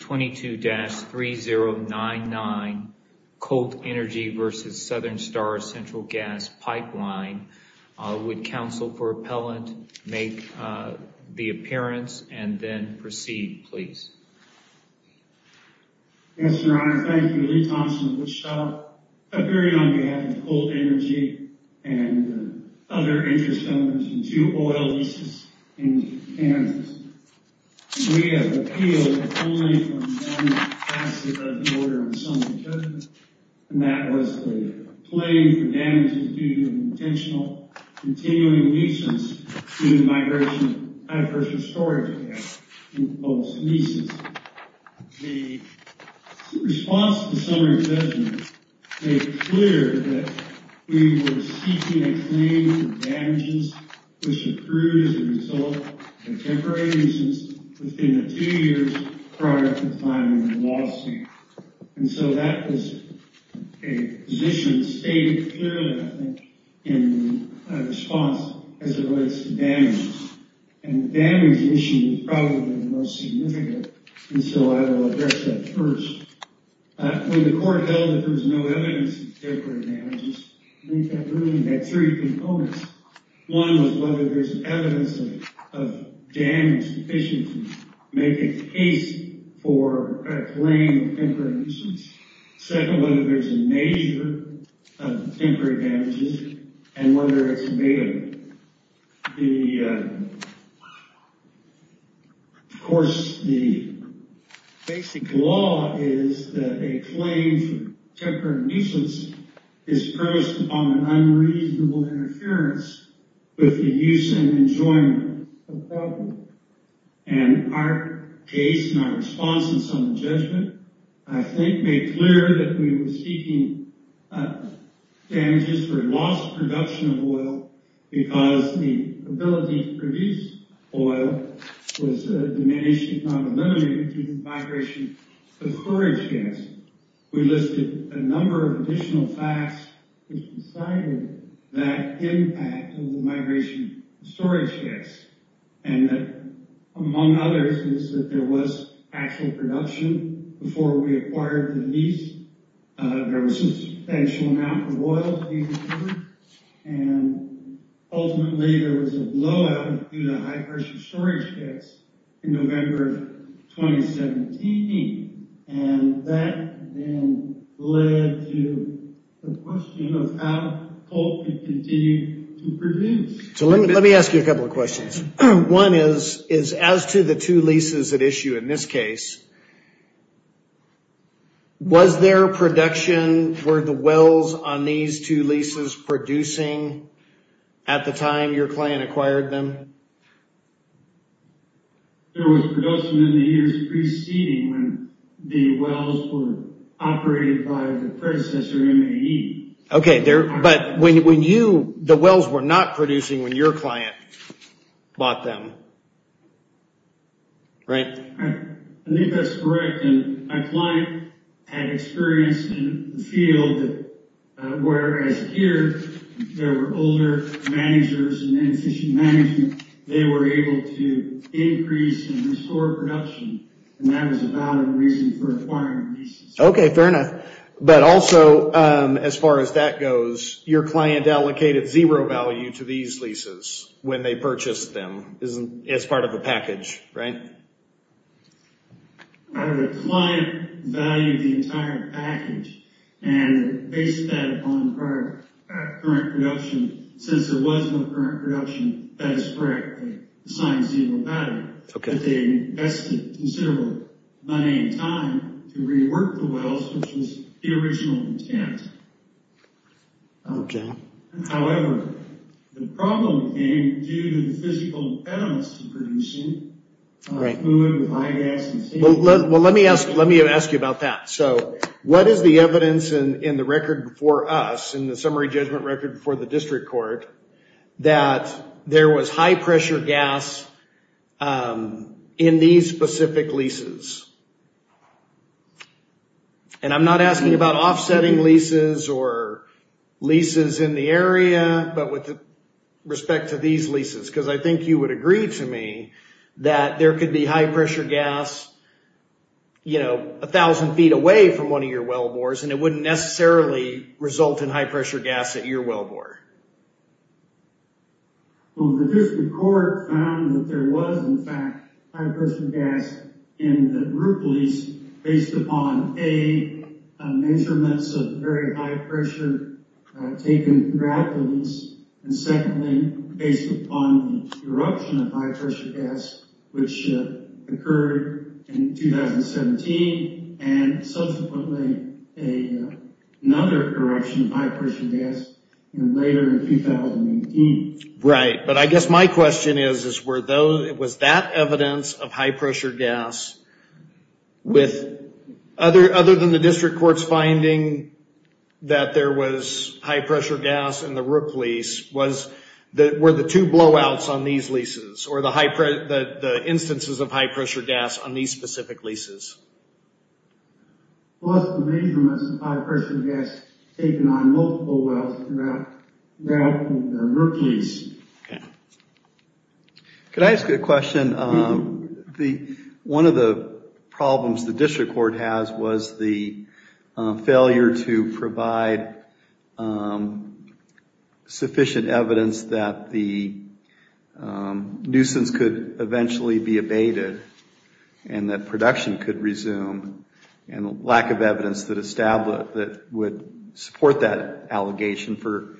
22-3099 Colt Energy v. Southern Star Central Gas Pipeline. Would counsel for appellant make the appearance and then proceed, please. Yes, Your Honor, thank you. Lee Thompson, Wichita, appearing on behalf of Colt Energy and other interest owners in two oil leases in Kansas. We have appealed only from one facet of the order in summary judgment, and that was the claim for damages due to an intentional continuing nuisance to the migration of high-pressure storage in post-nuisance. The response to the summary judgment made clear that we were seeking a claim for damages which occurred as a result of a temporary nuisance within the two years prior to filing the lawsuit. And so that was a position stated clearly, I think, in response as it relates to damages. And the damages issue is probably the most significant, and so I will address that first. When the court held that there was no evidence of temporary damages, we had three components. One was whether there's evidence of damage sufficient to make a case for a claim of temporary nuisance. Second, whether there's a measure of temporary damages and whether it's made. The, of course, the basic law is that a claim for temporary nuisance is premised upon an unreasonable interference with the use and enjoyment of property. And our case and our response in summary judgment, I think, made clear that we were seeking damages for lost production of oil because the ability to produce oil was a diminishing probability due to the migration of forage gas. We listed a number of additional facts which decided that impact of the migration of storage gas. And that, among others, is that there was actual production before we acquired the lease. There was a substantial amount of oil to be delivered, and ultimately there was a blowout due to high pressure storage gas in November of 2017. And that then led to the question of how coal could continue to produce. So let me ask you a couple of questions. One is, is as to the two leases at issue in this case, was there production, were the wells on these two leases producing at the time your client acquired them? There was production in the years preceding when the wells were operated by the predecessor MAE. Okay, but when you, the wells were not producing when your client bought them, right? I think that's correct. And my client had experience in the field, whereas here there were older managers and they were able to increase and restore production, and that was about a reason for acquiring the leases. Okay, fair enough. But also, as far as that goes, your client allocated zero value to these leases when they purchased them as part of a package, right? Our client valued the entire package and based that on current production. Since there was no current production, that is correct, they assigned zero value, but they invested considerable money and time to rework the wells, which was the original intent. However, the problem came due to the physical impediments to producing food with high gas and steam. Well, let me ask you about that. So what is the evidence in the record before us, in the summary judgment record before the district court, that there was high pressure gas in these specific leases? And I'm not asking about offsetting leases or leases in the area, but with respect to these leases, because I think you would agree to me that there could be high pressure gas a thousand feet away from one of your wellbores and it wouldn't necessarily result in high pressure gas. Well, the district court found that there was, in fact, high pressure gas in the group lease based upon, A, measurements of very high pressure taken throughout the lease, and secondly, based upon the eruption of high pressure gas, which occurred in 2017 and subsequently another eruption of high pressure gas later in 2018. Right. But I guess my question is, was that evidence of high pressure gas, other than the district court's finding that there was high pressure gas in the rook lease, were the two blowouts on these leases or the instances of high pressure gas on these specific leases? Plus the measurements of high pressure gas taken on multiple wells throughout the rook lease. Can I ask you a question? One of the problems the district court has was the failure to provide sufficient evidence that the nuisance could eventually be abated and that production could resume and lack of evidence that would support that allegation for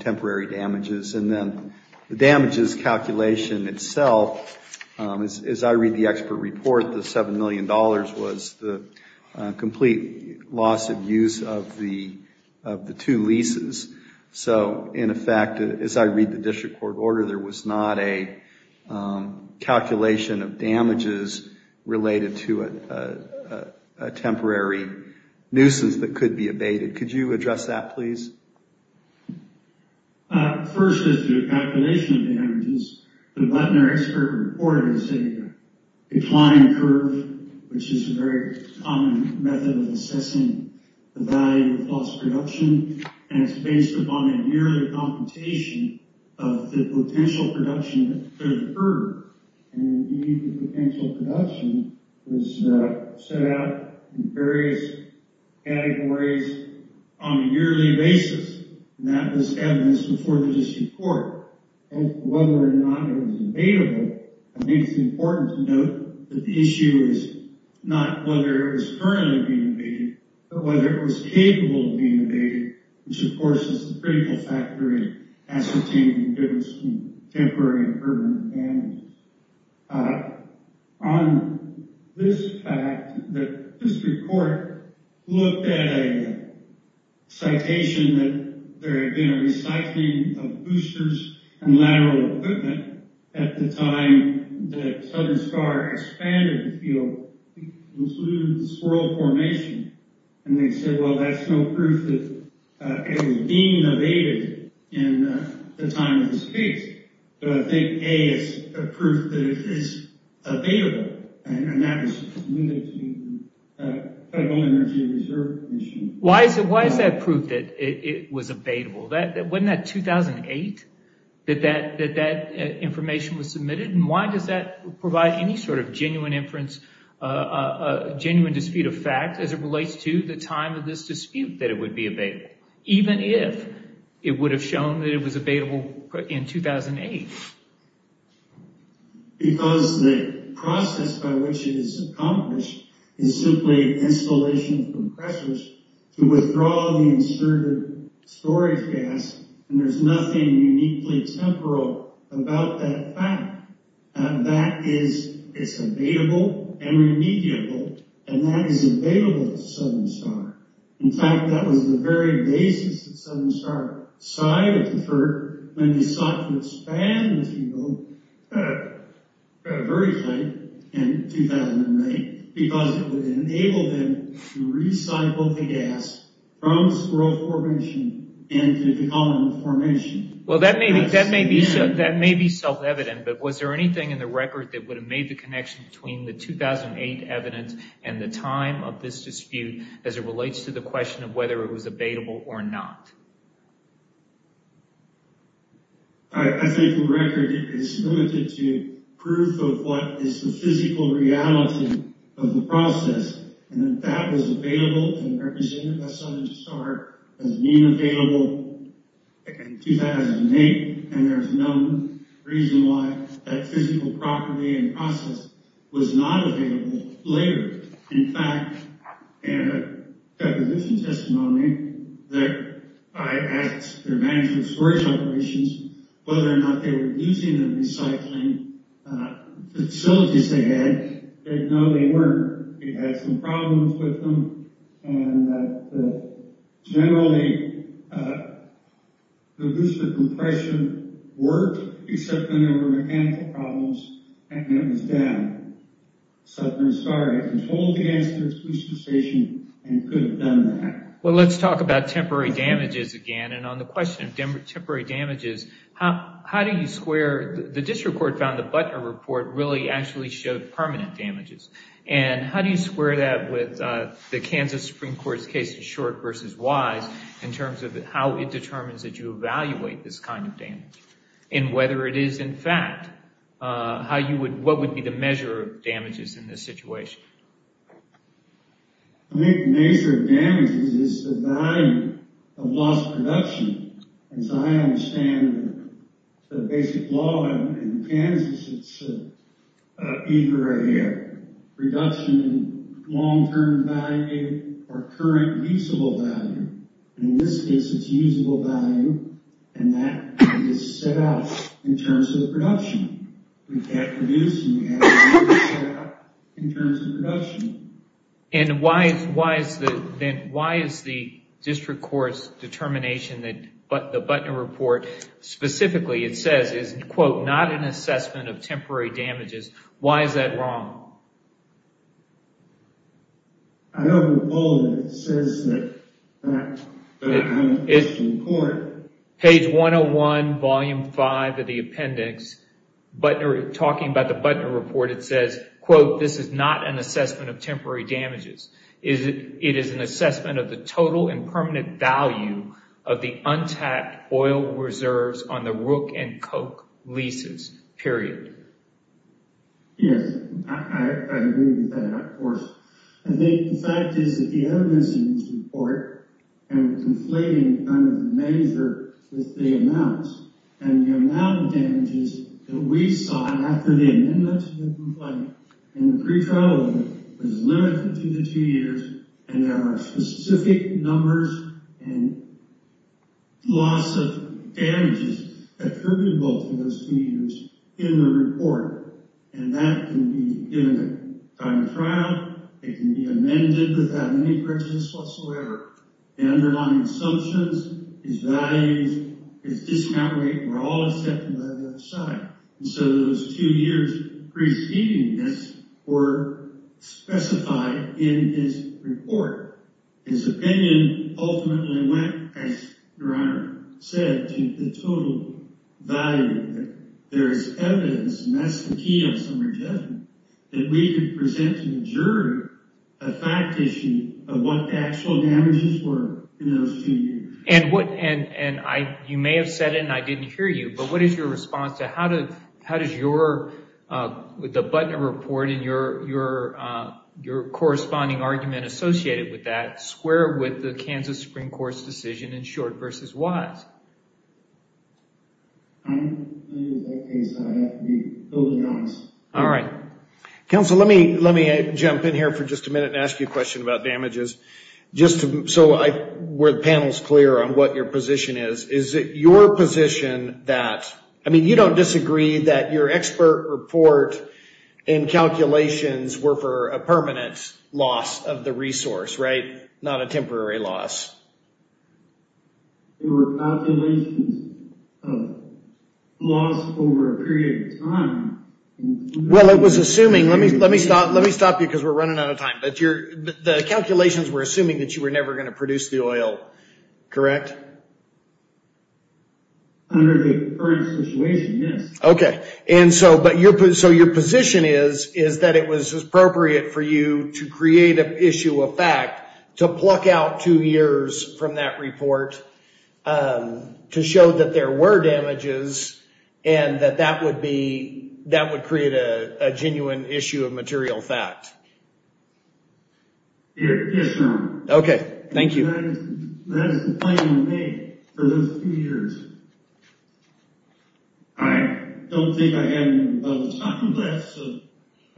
temporary damages. And then the damages calculation itself, as I read the expert report, the $7 million was the complete loss of use of the two leases. So in effect, as I read the district court order, there was not a calculation of damages related to a temporary nuisance that could be abated. Could you address that, please? First is the calculation of damages. The Butner expert report is a decline curve, which is a very common method of assessing the value of lost production, and it's based upon a yearly computation of the potential production that could occur. And indeed, the potential production was set out in various categories on a yearly basis, and that was evidence before the district court. Whether or not it was abatable, I think it's important to note that the issue is not whether it was currently being abated, but whether it was capable of being abated, which of course is a critical factor in ascertaining if it was a temporary or permanent damage. On this fact, the district court looked at a citation that there had been a recycling of boosters and lateral equipment at the time that Southern Star expanded the field. It included the swirl formation, and they said, well, that's no proof that it was being abated at the time of this case. But I think, A, it's proof that it is abatable, and that was submitted to the Federal Energy Reserve Commission. Why is that proof that it was abatable? Wasn't that 2008 that that information was submitted, and why does that provide any sort of genuine inference, a genuine dispute of fact, as it relates to the time of this dispute that it would be abatable, even if it would have shown that it was abatable in 2008? Because the process by which it is accomplished is simply installation of compressors to withdraw the inserted storage gas, and there's nothing uniquely temporal about that fact. That is, it's abatable and remediable, and that is abatable to Southern Star. In fact, that was the very basis that Southern Star sighed at the court when they sought to expand the field very tight in 2008, because it would enable them to recycle the gas from swirl formation into the common formation. Well, that may be self-evident, but was there anything in the record that would have made the connection between the 2008 evidence and the time of this dispute as it relates to the question of whether it was abatable or not? I think the record is limited to proof of what is the physical reality of the process, and that that was abatable and represented by Southern Star as being abatable in 2008, and there's no reason why that physical property and process was not abatable later. In fact, in a deposition testimony, I asked their management storage operations whether or not they were using the recycling facilities they had. No, they weren't. It had some problems with them, and generally, the booster compression worked, except when there were mechanical problems and it was down. Southern Star had controlled the gas through its booster station and could have done that. Well, let's talk about temporary damages again, and on the question of temporary damages, how do you square... The district court found the Butner report really actually showed permanent damages, and how do you square that with the Kansas Supreme Court's case of short versus wise in terms of how it determines that you evaluate this kind of damage, and whether it is, in fact, what would be the measure of damages in this situation? I think the measure of damages is the value of lost production, and so I understand the basic law in Kansas, it's either a reduction in long-term value or current useable value, and in this case, it's useable value, and that is set out in terms of production. We can't reduce it, we have to set it out in terms of production. And why is the district court's determination that the Butner report specifically, it says, is, quote, not an assessment of temporary damages. Why is that wrong? I know the bulletin says that, but I'm a district court. Page 101, volume 5 of the appendix, talking about the Butner report, it says, quote, this is not an assessment of temporary damages. It is an assessment of the total and permanent value of the untapped oil reserves on the Rook and Koch leases, period. I think the fact is that the evidence in this report, and we're conflating kind of the measure with the amounts, and the amount of damages that we saw after the amendment to the complaint and the pretrial was limited to the two years, and there are specific numbers and loss of damages attributable to those two years in the report, and that can be given by the trial. It can be amended without any prejudice whatsoever. The underlying assumptions, his values, his discount rate were all accepted by the other side, and so those two years preceding this were specified in his report. His opinion ultimately went, as Your Honor said, to the total value. There is evidence, and that's the key of summary judgment, that we could present to the jury a fact issue of what the actual damages were in those two years. You may have said it and I didn't hear you, but what is your response to how does your, the Butner report and your corresponding argument associated with that square with the Kansas Supreme Court's decision in Short v. Wise? In that case, I have to be totally honest. All right. Counsel, let me jump in here for just a minute and ask you a question about damages. Just so the panel is clear on what your position is, is it your position that, I mean, you don't disagree that your expert report and calculations were for a permanent loss of the resource, right? Not a temporary loss. There were calculations of loss over a period of time. Well, it was assuming, let me stop you because we're running out of time, but the calculations were assuming that you were never going to produce the oil, correct? Under the current situation, yes. Okay, and so your position is that it was appropriate for you to create an issue of two years from that report to show that there were damages and that that would be, that would create a genuine issue of material fact? Yes, Your Honor. Okay, thank you. And that is the final thing for those two years. I don't think I have any more to talk about, so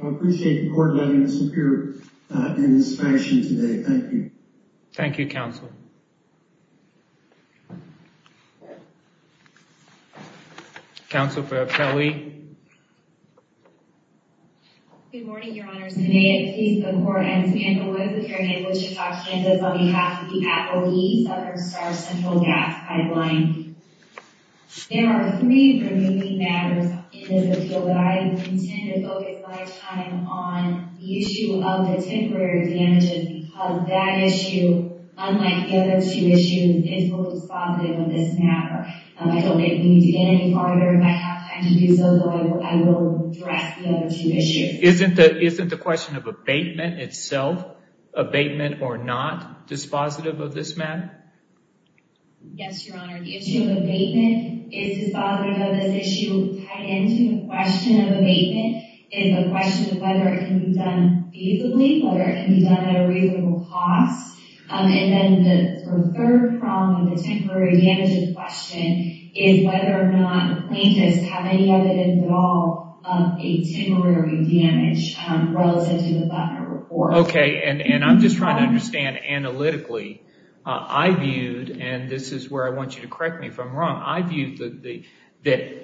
I appreciate the court letting us appear in this session today. Thank you. Thank you, counsel. Counsel for Apelli. Good morning, Your Honors. I'm Anaette Pease, the court. I'm standing with Your Honor, Bishop Sarkandos on behalf of the employees of our Star Central Gas Pipeline. There are three remaining matters in this appeal that I intend to focus my time on the issue of the temporary damages because that issue, unlike the other two issues, is fully dispositive of this matter. I don't think we need to get any farther. If I have time to do so, though, I will address the other two issues. Isn't the question of abatement itself, abatement or not, dispositive of this matter? Yes, Your Honor. The issue of abatement is dispositive of this issue tied into the question of abatement is a question of whether it can be done feasibly, whether it can be done at a reasonable cost. And then the third problem with the temporary damages question is whether or not plaintiffs have any evidence at all of a temporary damage relative to the butler report. Okay, and I'm just trying to understand analytically. I viewed, and this is where I want you to correct me if I'm wrong. I viewed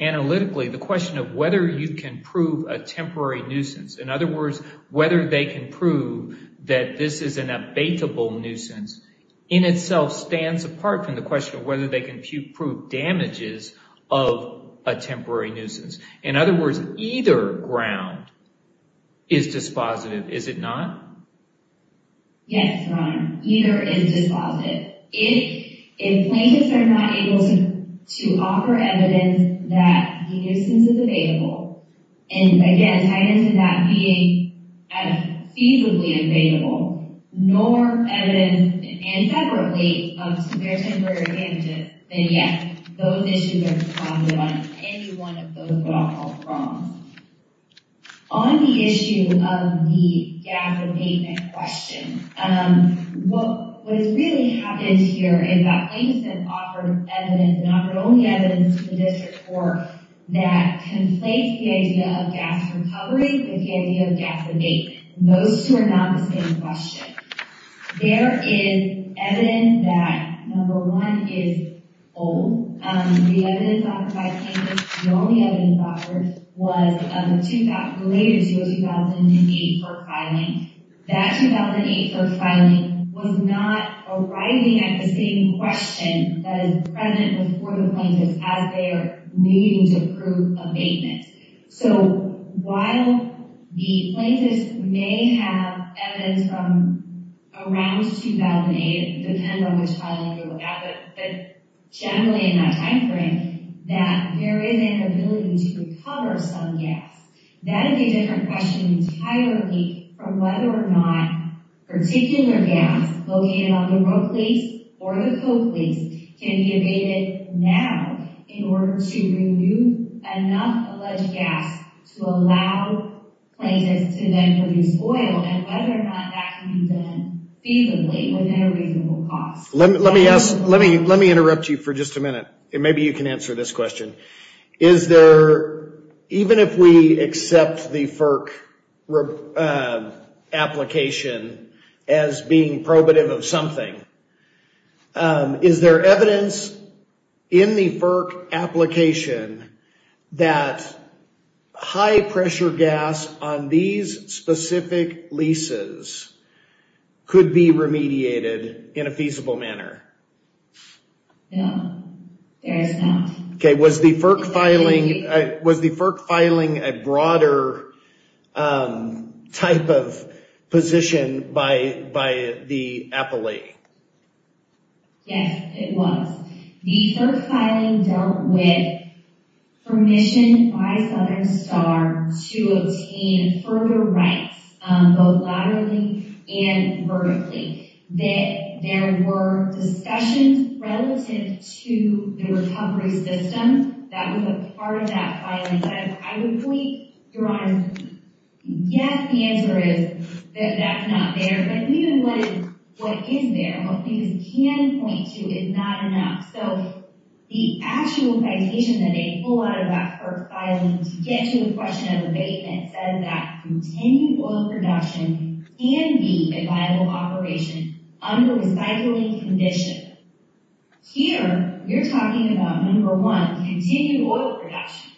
analytically the question of whether you can prove a temporary nuisance. In other words, whether they can prove that this is an abatable nuisance in itself stands apart from the question of whether they can prove damages of a temporary nuisance. In other words, either ground is dispositive, is it not? Yes, Your Honor. Either is dispositive. If plaintiffs are not able to offer evidence that the nuisance is abatable, and again, tied into that being feasibly abatable, nor evidence, and separately, of their temporary damages, then yes, those issues are dispositive on any one of those wrongs. On the issue of the gas abatement question, what has really happened here is that plaintiffs have offered evidence, and offered only evidence, to the district court that conflates the idea of gas recovery with the idea of gas abatement. Those two are not the same question. There is evidence that, number one, is old. The evidence offered by plaintiffs, the only evidence offered, was of the later year 2008 FERC filing. That 2008 FERC filing was not arriving at the same question that is present before the plaintiffs as they are needing to prove abatement. So while the plaintiffs may have evidence from around 2008, it depends on which filing you're looking at, but generally in that time frame, that there is an ability to recover some gas. That is a different question entirely from whether or not particular gas located on the Roke Lease or the Coke Lease can be abated now in order to renew enough alleged gas to allow plaintiffs to then produce oil, and whether or not that can be done feasibly, within a reasonable cost. Let me ask, let me interrupt you for just a minute, and maybe you can answer this question. Is there, even if we accept the FERC application as being probative of something, is there evidence in the FERC application that high pressure gas on these specific leases could be remediated in a feasible manner? No, there is not. Okay, was the FERC filing a broader type of position by the appellee? Yes, it was. The FERC filing dealt with permission by Southern Star to obtain further rights, both laterally and vertically. There were discussions relative to the recovery system that was a part of that filing. I would point, Your Honor, yes, the answer is that that's not there, but even what is there, what these can point to, is not enough. So the actual citation that they pull out of that FERC filing to get to the question of abatement says that continued oil production can be a viable operation under recycling condition. Here, you're talking about, number one, continued oil production.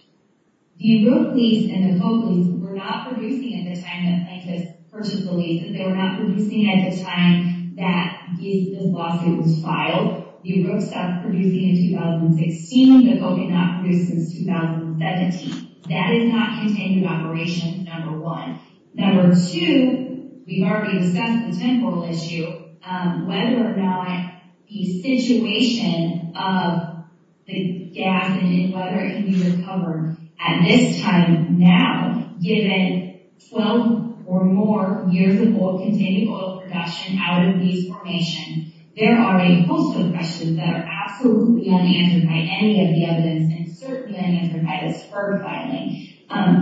The Rook lease and the Coke lease were not producing at the time that Plankus purchased the lease, and they were not producing at the time that this lawsuit was filed. The Rook stopped producing in 2016, and the Coke did not produce since 2017. That is not continued operation, number one. Number two, we've already discussed the temporal issue, whether or not the situation of the gas and whether it can be recovered at this time now, given 12 or more years of old continued oil production out of these formations, there are a host of questions that are absolutely unanswered by any of the evidence, and certainly unanswered by this FERC filing.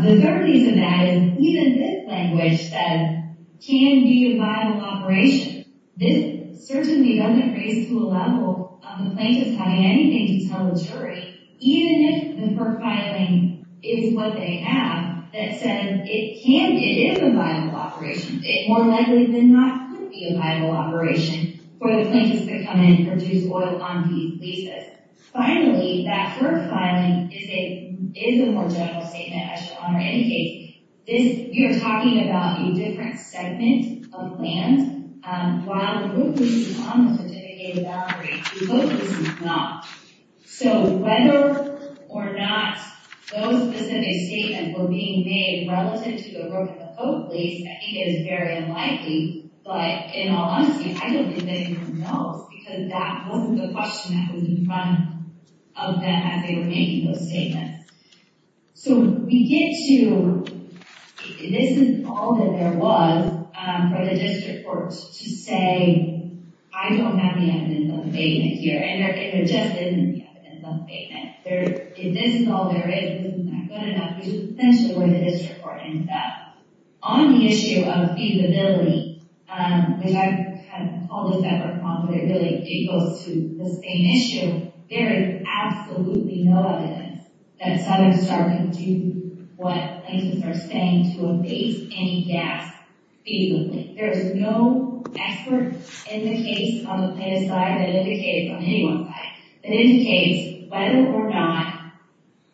The third reason that is, even this language says, can be a viable operation. This certainly doesn't raise to a level of the Plankus having anything to tell the jury, even if the FERC filing is what they have, that says it can, it is a viable operation. It more likely than not could be a viable operation for the Plankus to come in and produce oil on these leases. Finally, that FERC filing is a more general statement, as your Honor indicates. This, you're talking about a different segment of land, while the Rook lease is on the certificated boundary, the Coke lease is not. So whether or not those specific statements were being made relative to the Rook and the Coke lease, I think it is very unlikely, but in all honesty, I don't think anyone knows, because that wasn't the question that was in front of them as they were making those statements. So we get to, this is all that there was for the district court to say, I don't have the evidence of abatement here, and there just isn't the evidence of abatement. If this is all there is, this is not good enough, which is essentially where the district court ends up. On the issue of feasibility, which I call this effort on feasibility because it goes to the same issue, there is absolutely no evidence that Southern Star can do what Plankus are saying to abate any gas feasibly. There is no effort in the case on the Plankus side that indicates, on anyone's side, that indicates whether or not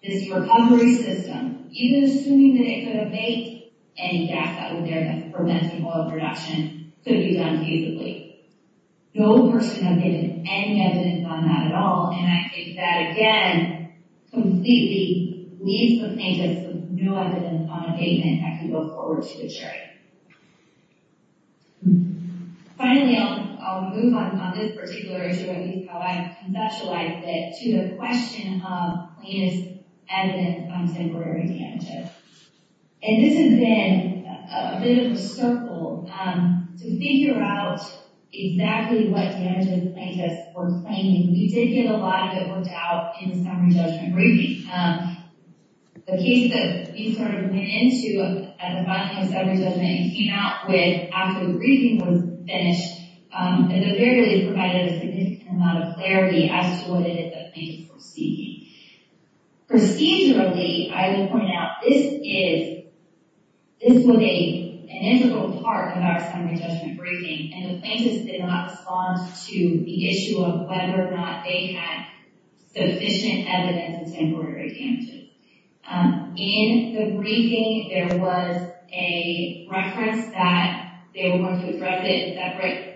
this recovery system, even assuming that it could abate any gas that was there that prevents the oil production, could be done feasibly. No person has given any evidence on that at all, and I think that again, completely leaves the plaintiffs with no evidence on abatement that can go forward to the jury. Finally, I'll move on from this particular issue, at least how I conceptualized it, to the question of cleanest evidence on temporary damages. This has been a bit of a circle to figure out exactly what damages Plankus were claiming. We did get a lot of it worked out in the summary judgment briefing. The case that we sort of went into at the bottom of the summary judgment and came out with after the briefing was finished, it invariably provided a significant amount of clarity as to what it is that Plankus were seeking. Procedurally, I will point out, this is, this was an integral part of our summary judgment briefing, and the plaintiffs did not respond to the issue of whether or not they had sufficient evidence of temporary damages. In the briefing, there was a reference that they were going to address it, that right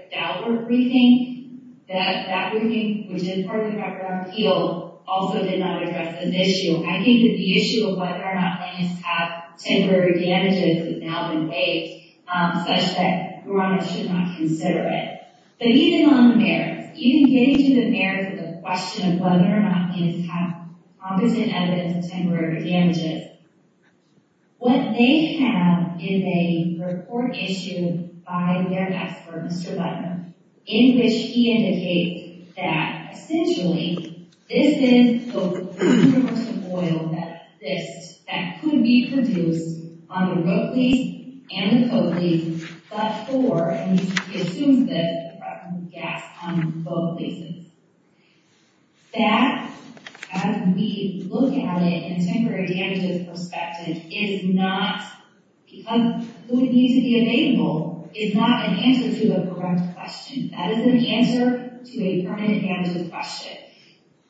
after appeal also did not address this issue. I think that the issue of whether or not plaintiffs have temporary damages has now been waived, such that Murano should not consider it. But even on the merits, even getting to the merits of the question of whether or not plaintiffs have competent evidence of temporary damages, what they have is a report issue by their expert, Mr. Butler, in which he indicates that essentially, this is the portion of oil that exists that could be produced on the road lease and the co-lease, but for, and he assumes this, the production of gas on both leases. That, as we look at it in a temporary damages perspective, is not, because food needs to be available, is not an answer to a corrupt question. That is an answer to a permanent damages question.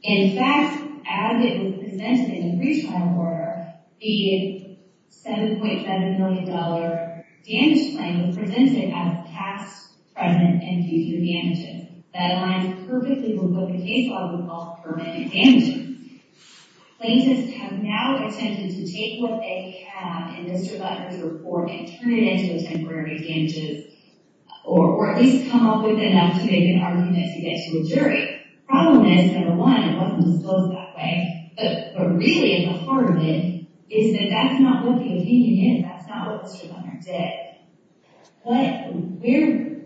In fact, as it was presented in pretrial order, the $7.5 million damage claim was presented as past, present, and future damages. That aligns perfectly with what the case law would call permanent damages. Plaintiffs have now attempted to take what they have in Mr. Butler's report and turn it into a temporary damages, or at least come up with enough to make an argument to get to a jury. Problem is, number one, it wasn't disclosed that way, but really, the horror of it is that that's not what the opinion is, that's not what Mr. Butler did. But we're,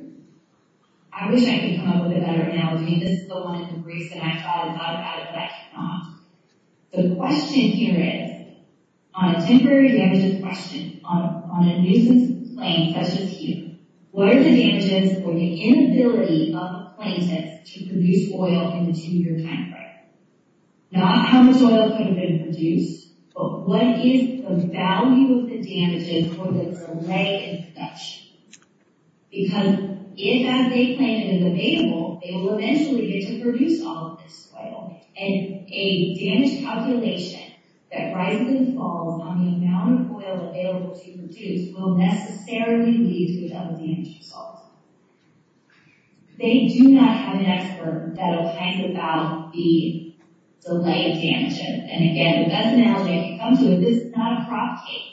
I wish I could come up with a better analogy. This is the one in the briefs that I thought about, but I cannot. The question here is, on a temporary damages question, on a nuisance claim such as here, what are the damages or the inability of plaintiffs to produce oil in the two-year time frame? Not how much oil could have been produced, but what is the value of the damages or the delay in production? Because if, as they claim, it is available, they will eventually get to produce all of this oil, and a damage calculation that risingly falls on the amount of oil available to produce will necessarily lead to a double damage result. They do not have an expert that opines about the delay in damage, and again, the best analogy I can come to is this is not a crop case.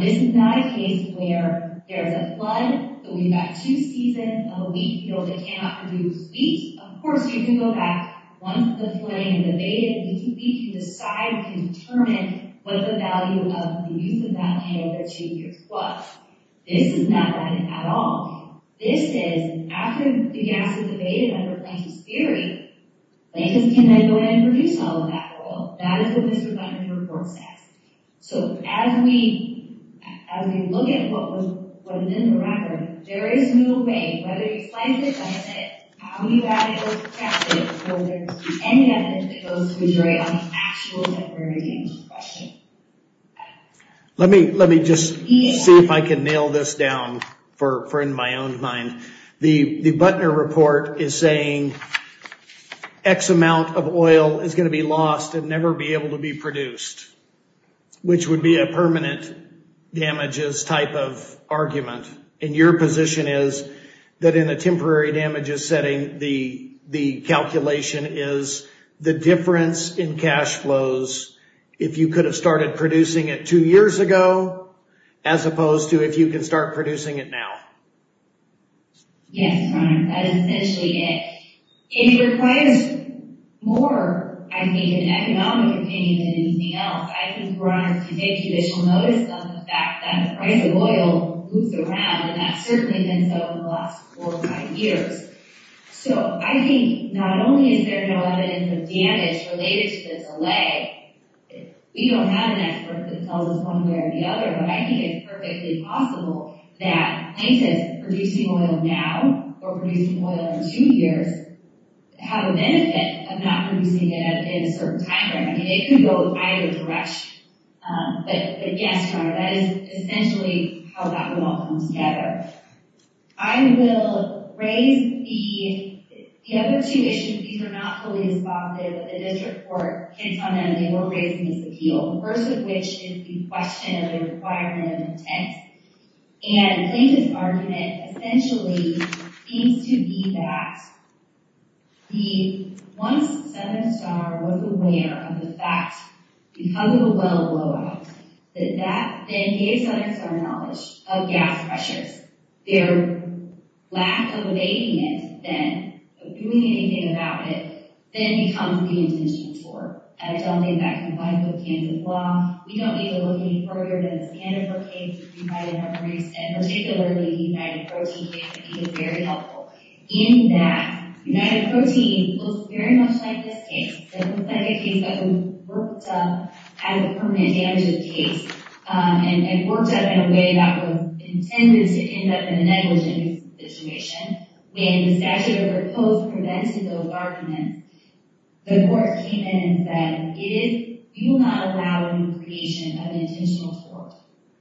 This is not a case where there is a flood, but we've got two seasons of a wheat field that cannot produce wheat. Of course, we can go back, once the claim is evaded, we can decide, we can determine what the value of the use of that hay over two years was. This is not that at all. This is, after the gas is evaded under Plaintiff's theory, plaintiffs can then go ahead and produce all of that oil. That is what this redundancy report says. So as we look at what is in the record, there is no way, whether you slice it, dice it, how you've added those factors, whether there's any evidence to go to a jury on the actual temporary damage question. Let me just see if I can nail this down for in my own mind. The Butner report is saying X amount of oil is going to be lost and never be able to be produced, which would be a permanent damages type of argument, and your position is that in a temporary damages setting, the calculation is the difference in cash flows if you could have started producing it two years ago, as opposed to if you can start producing it now. Yes, that is essentially it. It requires more, I think, an economic opinion than anything else. I think we're going to take judicial notice of the fact that the price of oil moves around, and that certainly has been so in the last four or five years. So I think not only is there no evidence of damage related to the delay, we don't have an expert that tells us one way or the other, but I think it's perfectly possible that places producing oil now or producing oil in two years have a benefit of not producing it in a certain time frame. I mean, it could go either direction, but yes, Your Honor, that is essentially how that all comes together. I will raise the other two issues. These are not fully responsive, but the district court can tell me they were raising this appeal, the first of which is the question of the requirement of intent, and I think this argument essentially seems to be that once Senator Starr was aware of the fact, because of the knowledge of gas pressures, their lack of evading it then, of doing anything about it, then becomes the intention for it. I don't think that combines with Kansas law. We don't need to look any further than the Sanford case, which you might have already said, particularly the United Protein case, which I think is very helpful, in that United Protein looks very much like this case. It looks like a case that was worked up as a permanent damage of the case and worked up in a way that was intended to end up in a negligent situation. When the statute of the proposed prevented those arguments, the court came in and said, if you will not allow the creation of an intentional tort,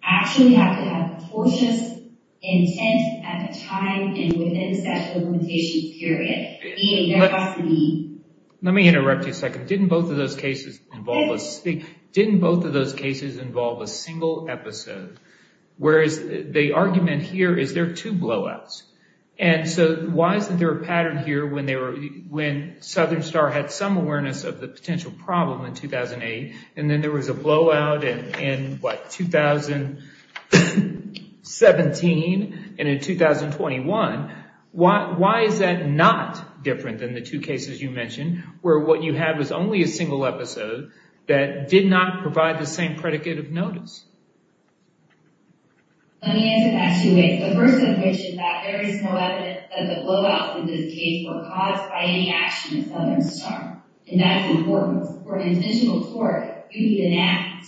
I actually have to have precocious intent at the time and within the statute of limitations period, meaning there has to be- Let me interrupt you a second. Both of those cases involve a single episode, whereas the argument here is there are two blowouts. Why isn't there a pattern here when Southern Starr had some awareness of the potential problem in 2008 and then there was a blowout in 2017 and in 2021? Why is that not different than the two cases you mentioned, where what you had was only a single episode that did not provide the same predicate of notice? Let me answer that two ways. The first of which is that there is no evidence that the blowouts in this case were caused by any action of Southern Starr, and that is important. For an intentional tort, you need an act.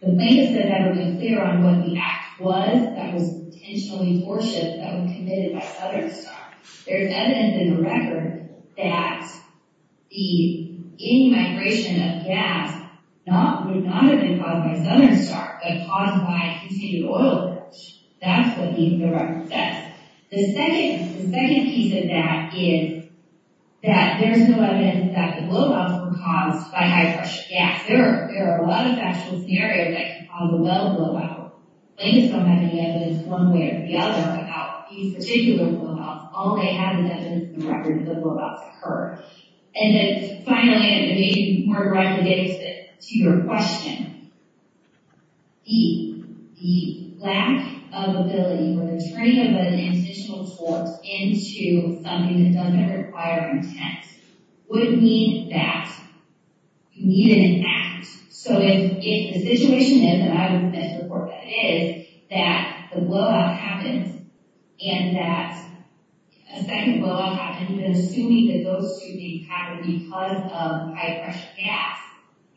The plaintiffs have never been clear on what the act was that was intentionally forcible that was committed by Southern Starr. There is evidence in the record that any migration of gas would not have been caused by Southern Starr, but caused by continued oil leakage. That's what the record says. The second piece of that is that there is no evidence that the blowouts were caused by high pressure gas. There are a lot of actual scenarios that can cause a well blowout. Plaintiffs don't have any evidence one way or the other about these particular blowouts. All they have is evidence in the record that the blowouts occurred. And then finally, and maybe more directly to your question, the lack of ability for the turning of an intentional tort into something that doesn't require intent would mean that you needed an act. So if the situation is, and I would submit to the court that it is, that the blowout happened, and that a second blowout happened, then assuming that those two things happened because of high pressure gas,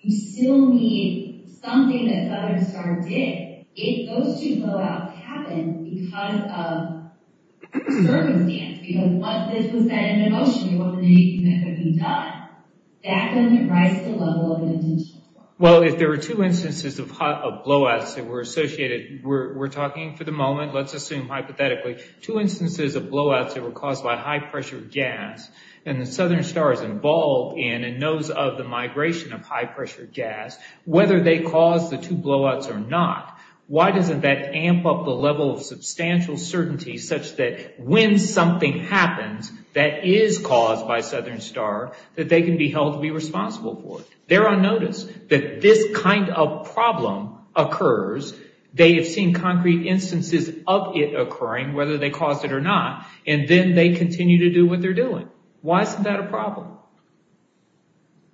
you still need something that Southern Starr did. If those two blowouts happened because of circumstance, because this was set in motion, what would need to be done, that wouldn't rise to the level of an intentional blowout. Well, if there were two instances of blowouts that were associated, we're talking for the moment, let's assume hypothetically, two instances of blowouts that were caused by high pressure gas, and that Southern Starr is involved in and knows of the migration of high pressure gas, whether they caused the two blowouts or not, why doesn't that be held to be responsible for it? They're on notice that this kind of problem occurs, they have seen concrete instances of it occurring, whether they caused it or not, and then they continue to do what they're doing. Why isn't that a problem?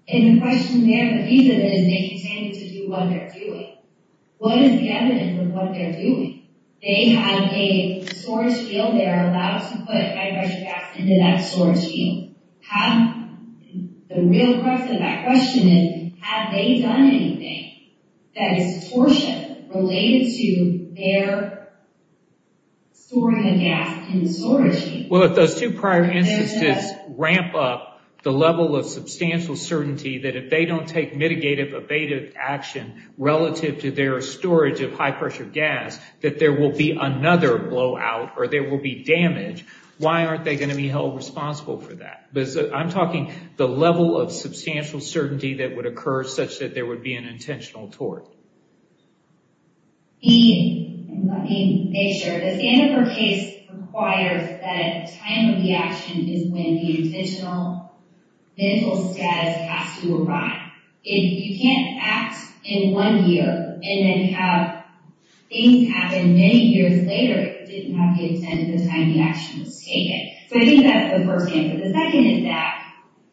And the question there, the reason is they continue to do what they're doing. What is the evidence of what they're doing? They have a storage field, they're allowed to put high pressure gas into that storage field. How, the real question of that question is, have they done anything that is torture related to their storing of gas in the storage field? Well, if those two prior instances ramp up the level of substantial certainty that if they don't take mitigative evasive action relative to their storage of high pressure gas, that there will be another blowout or there will be damage, why aren't they going to be held responsible for that? I'm talking the level of substantial certainty that would occur such that there would be an intentional tort. Let me make sure. Does the Annenberg case require that time of reaction is when the intentional mental status has to arrive? If you can't act in one year and then have things happen many years later, it didn't have the extent of the time the action was taken. So I think that's the first answer. The second is that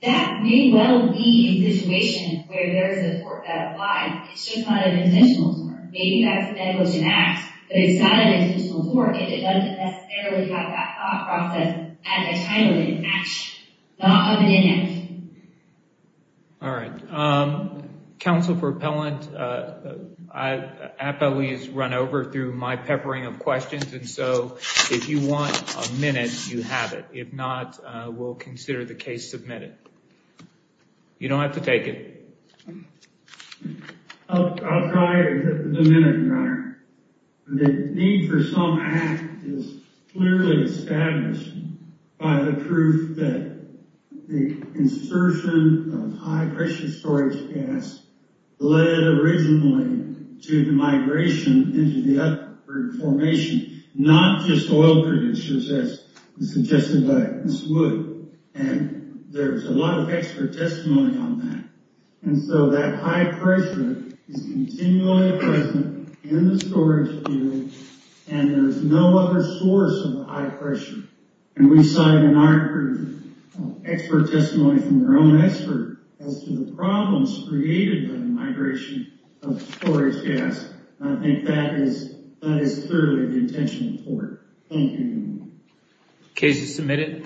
that may well be a situation where there is a tort that applies. It's just not an intentional tort. Maybe that's a medical genetic, but it's not an intentional tort if it doesn't necessarily have that thought process at the time of an action, not of an inaction. All right. Counsel for Appellant, I've probably run over through my peppering of questions. And so if you want a minute, you have it. If not, we'll consider the case submitted. You don't have to take it. I'll try the minute, Your Honor. The need for some act is clearly established by the proof that the insertion of high-pressure storage gas led originally to the migration into the uproot formation, not just oil producers as suggested by Ms. Wood. And there's a lot of expert testimony on that. And so that high-pressure is continually present in the storage field, and there's no other source of the high-pressure. And we cite in our expert testimony from our own expert as to the problems created by the migration of storage gas. And I think that is clearly the intentional tort. Thank you, Your Honor. Case is submitted.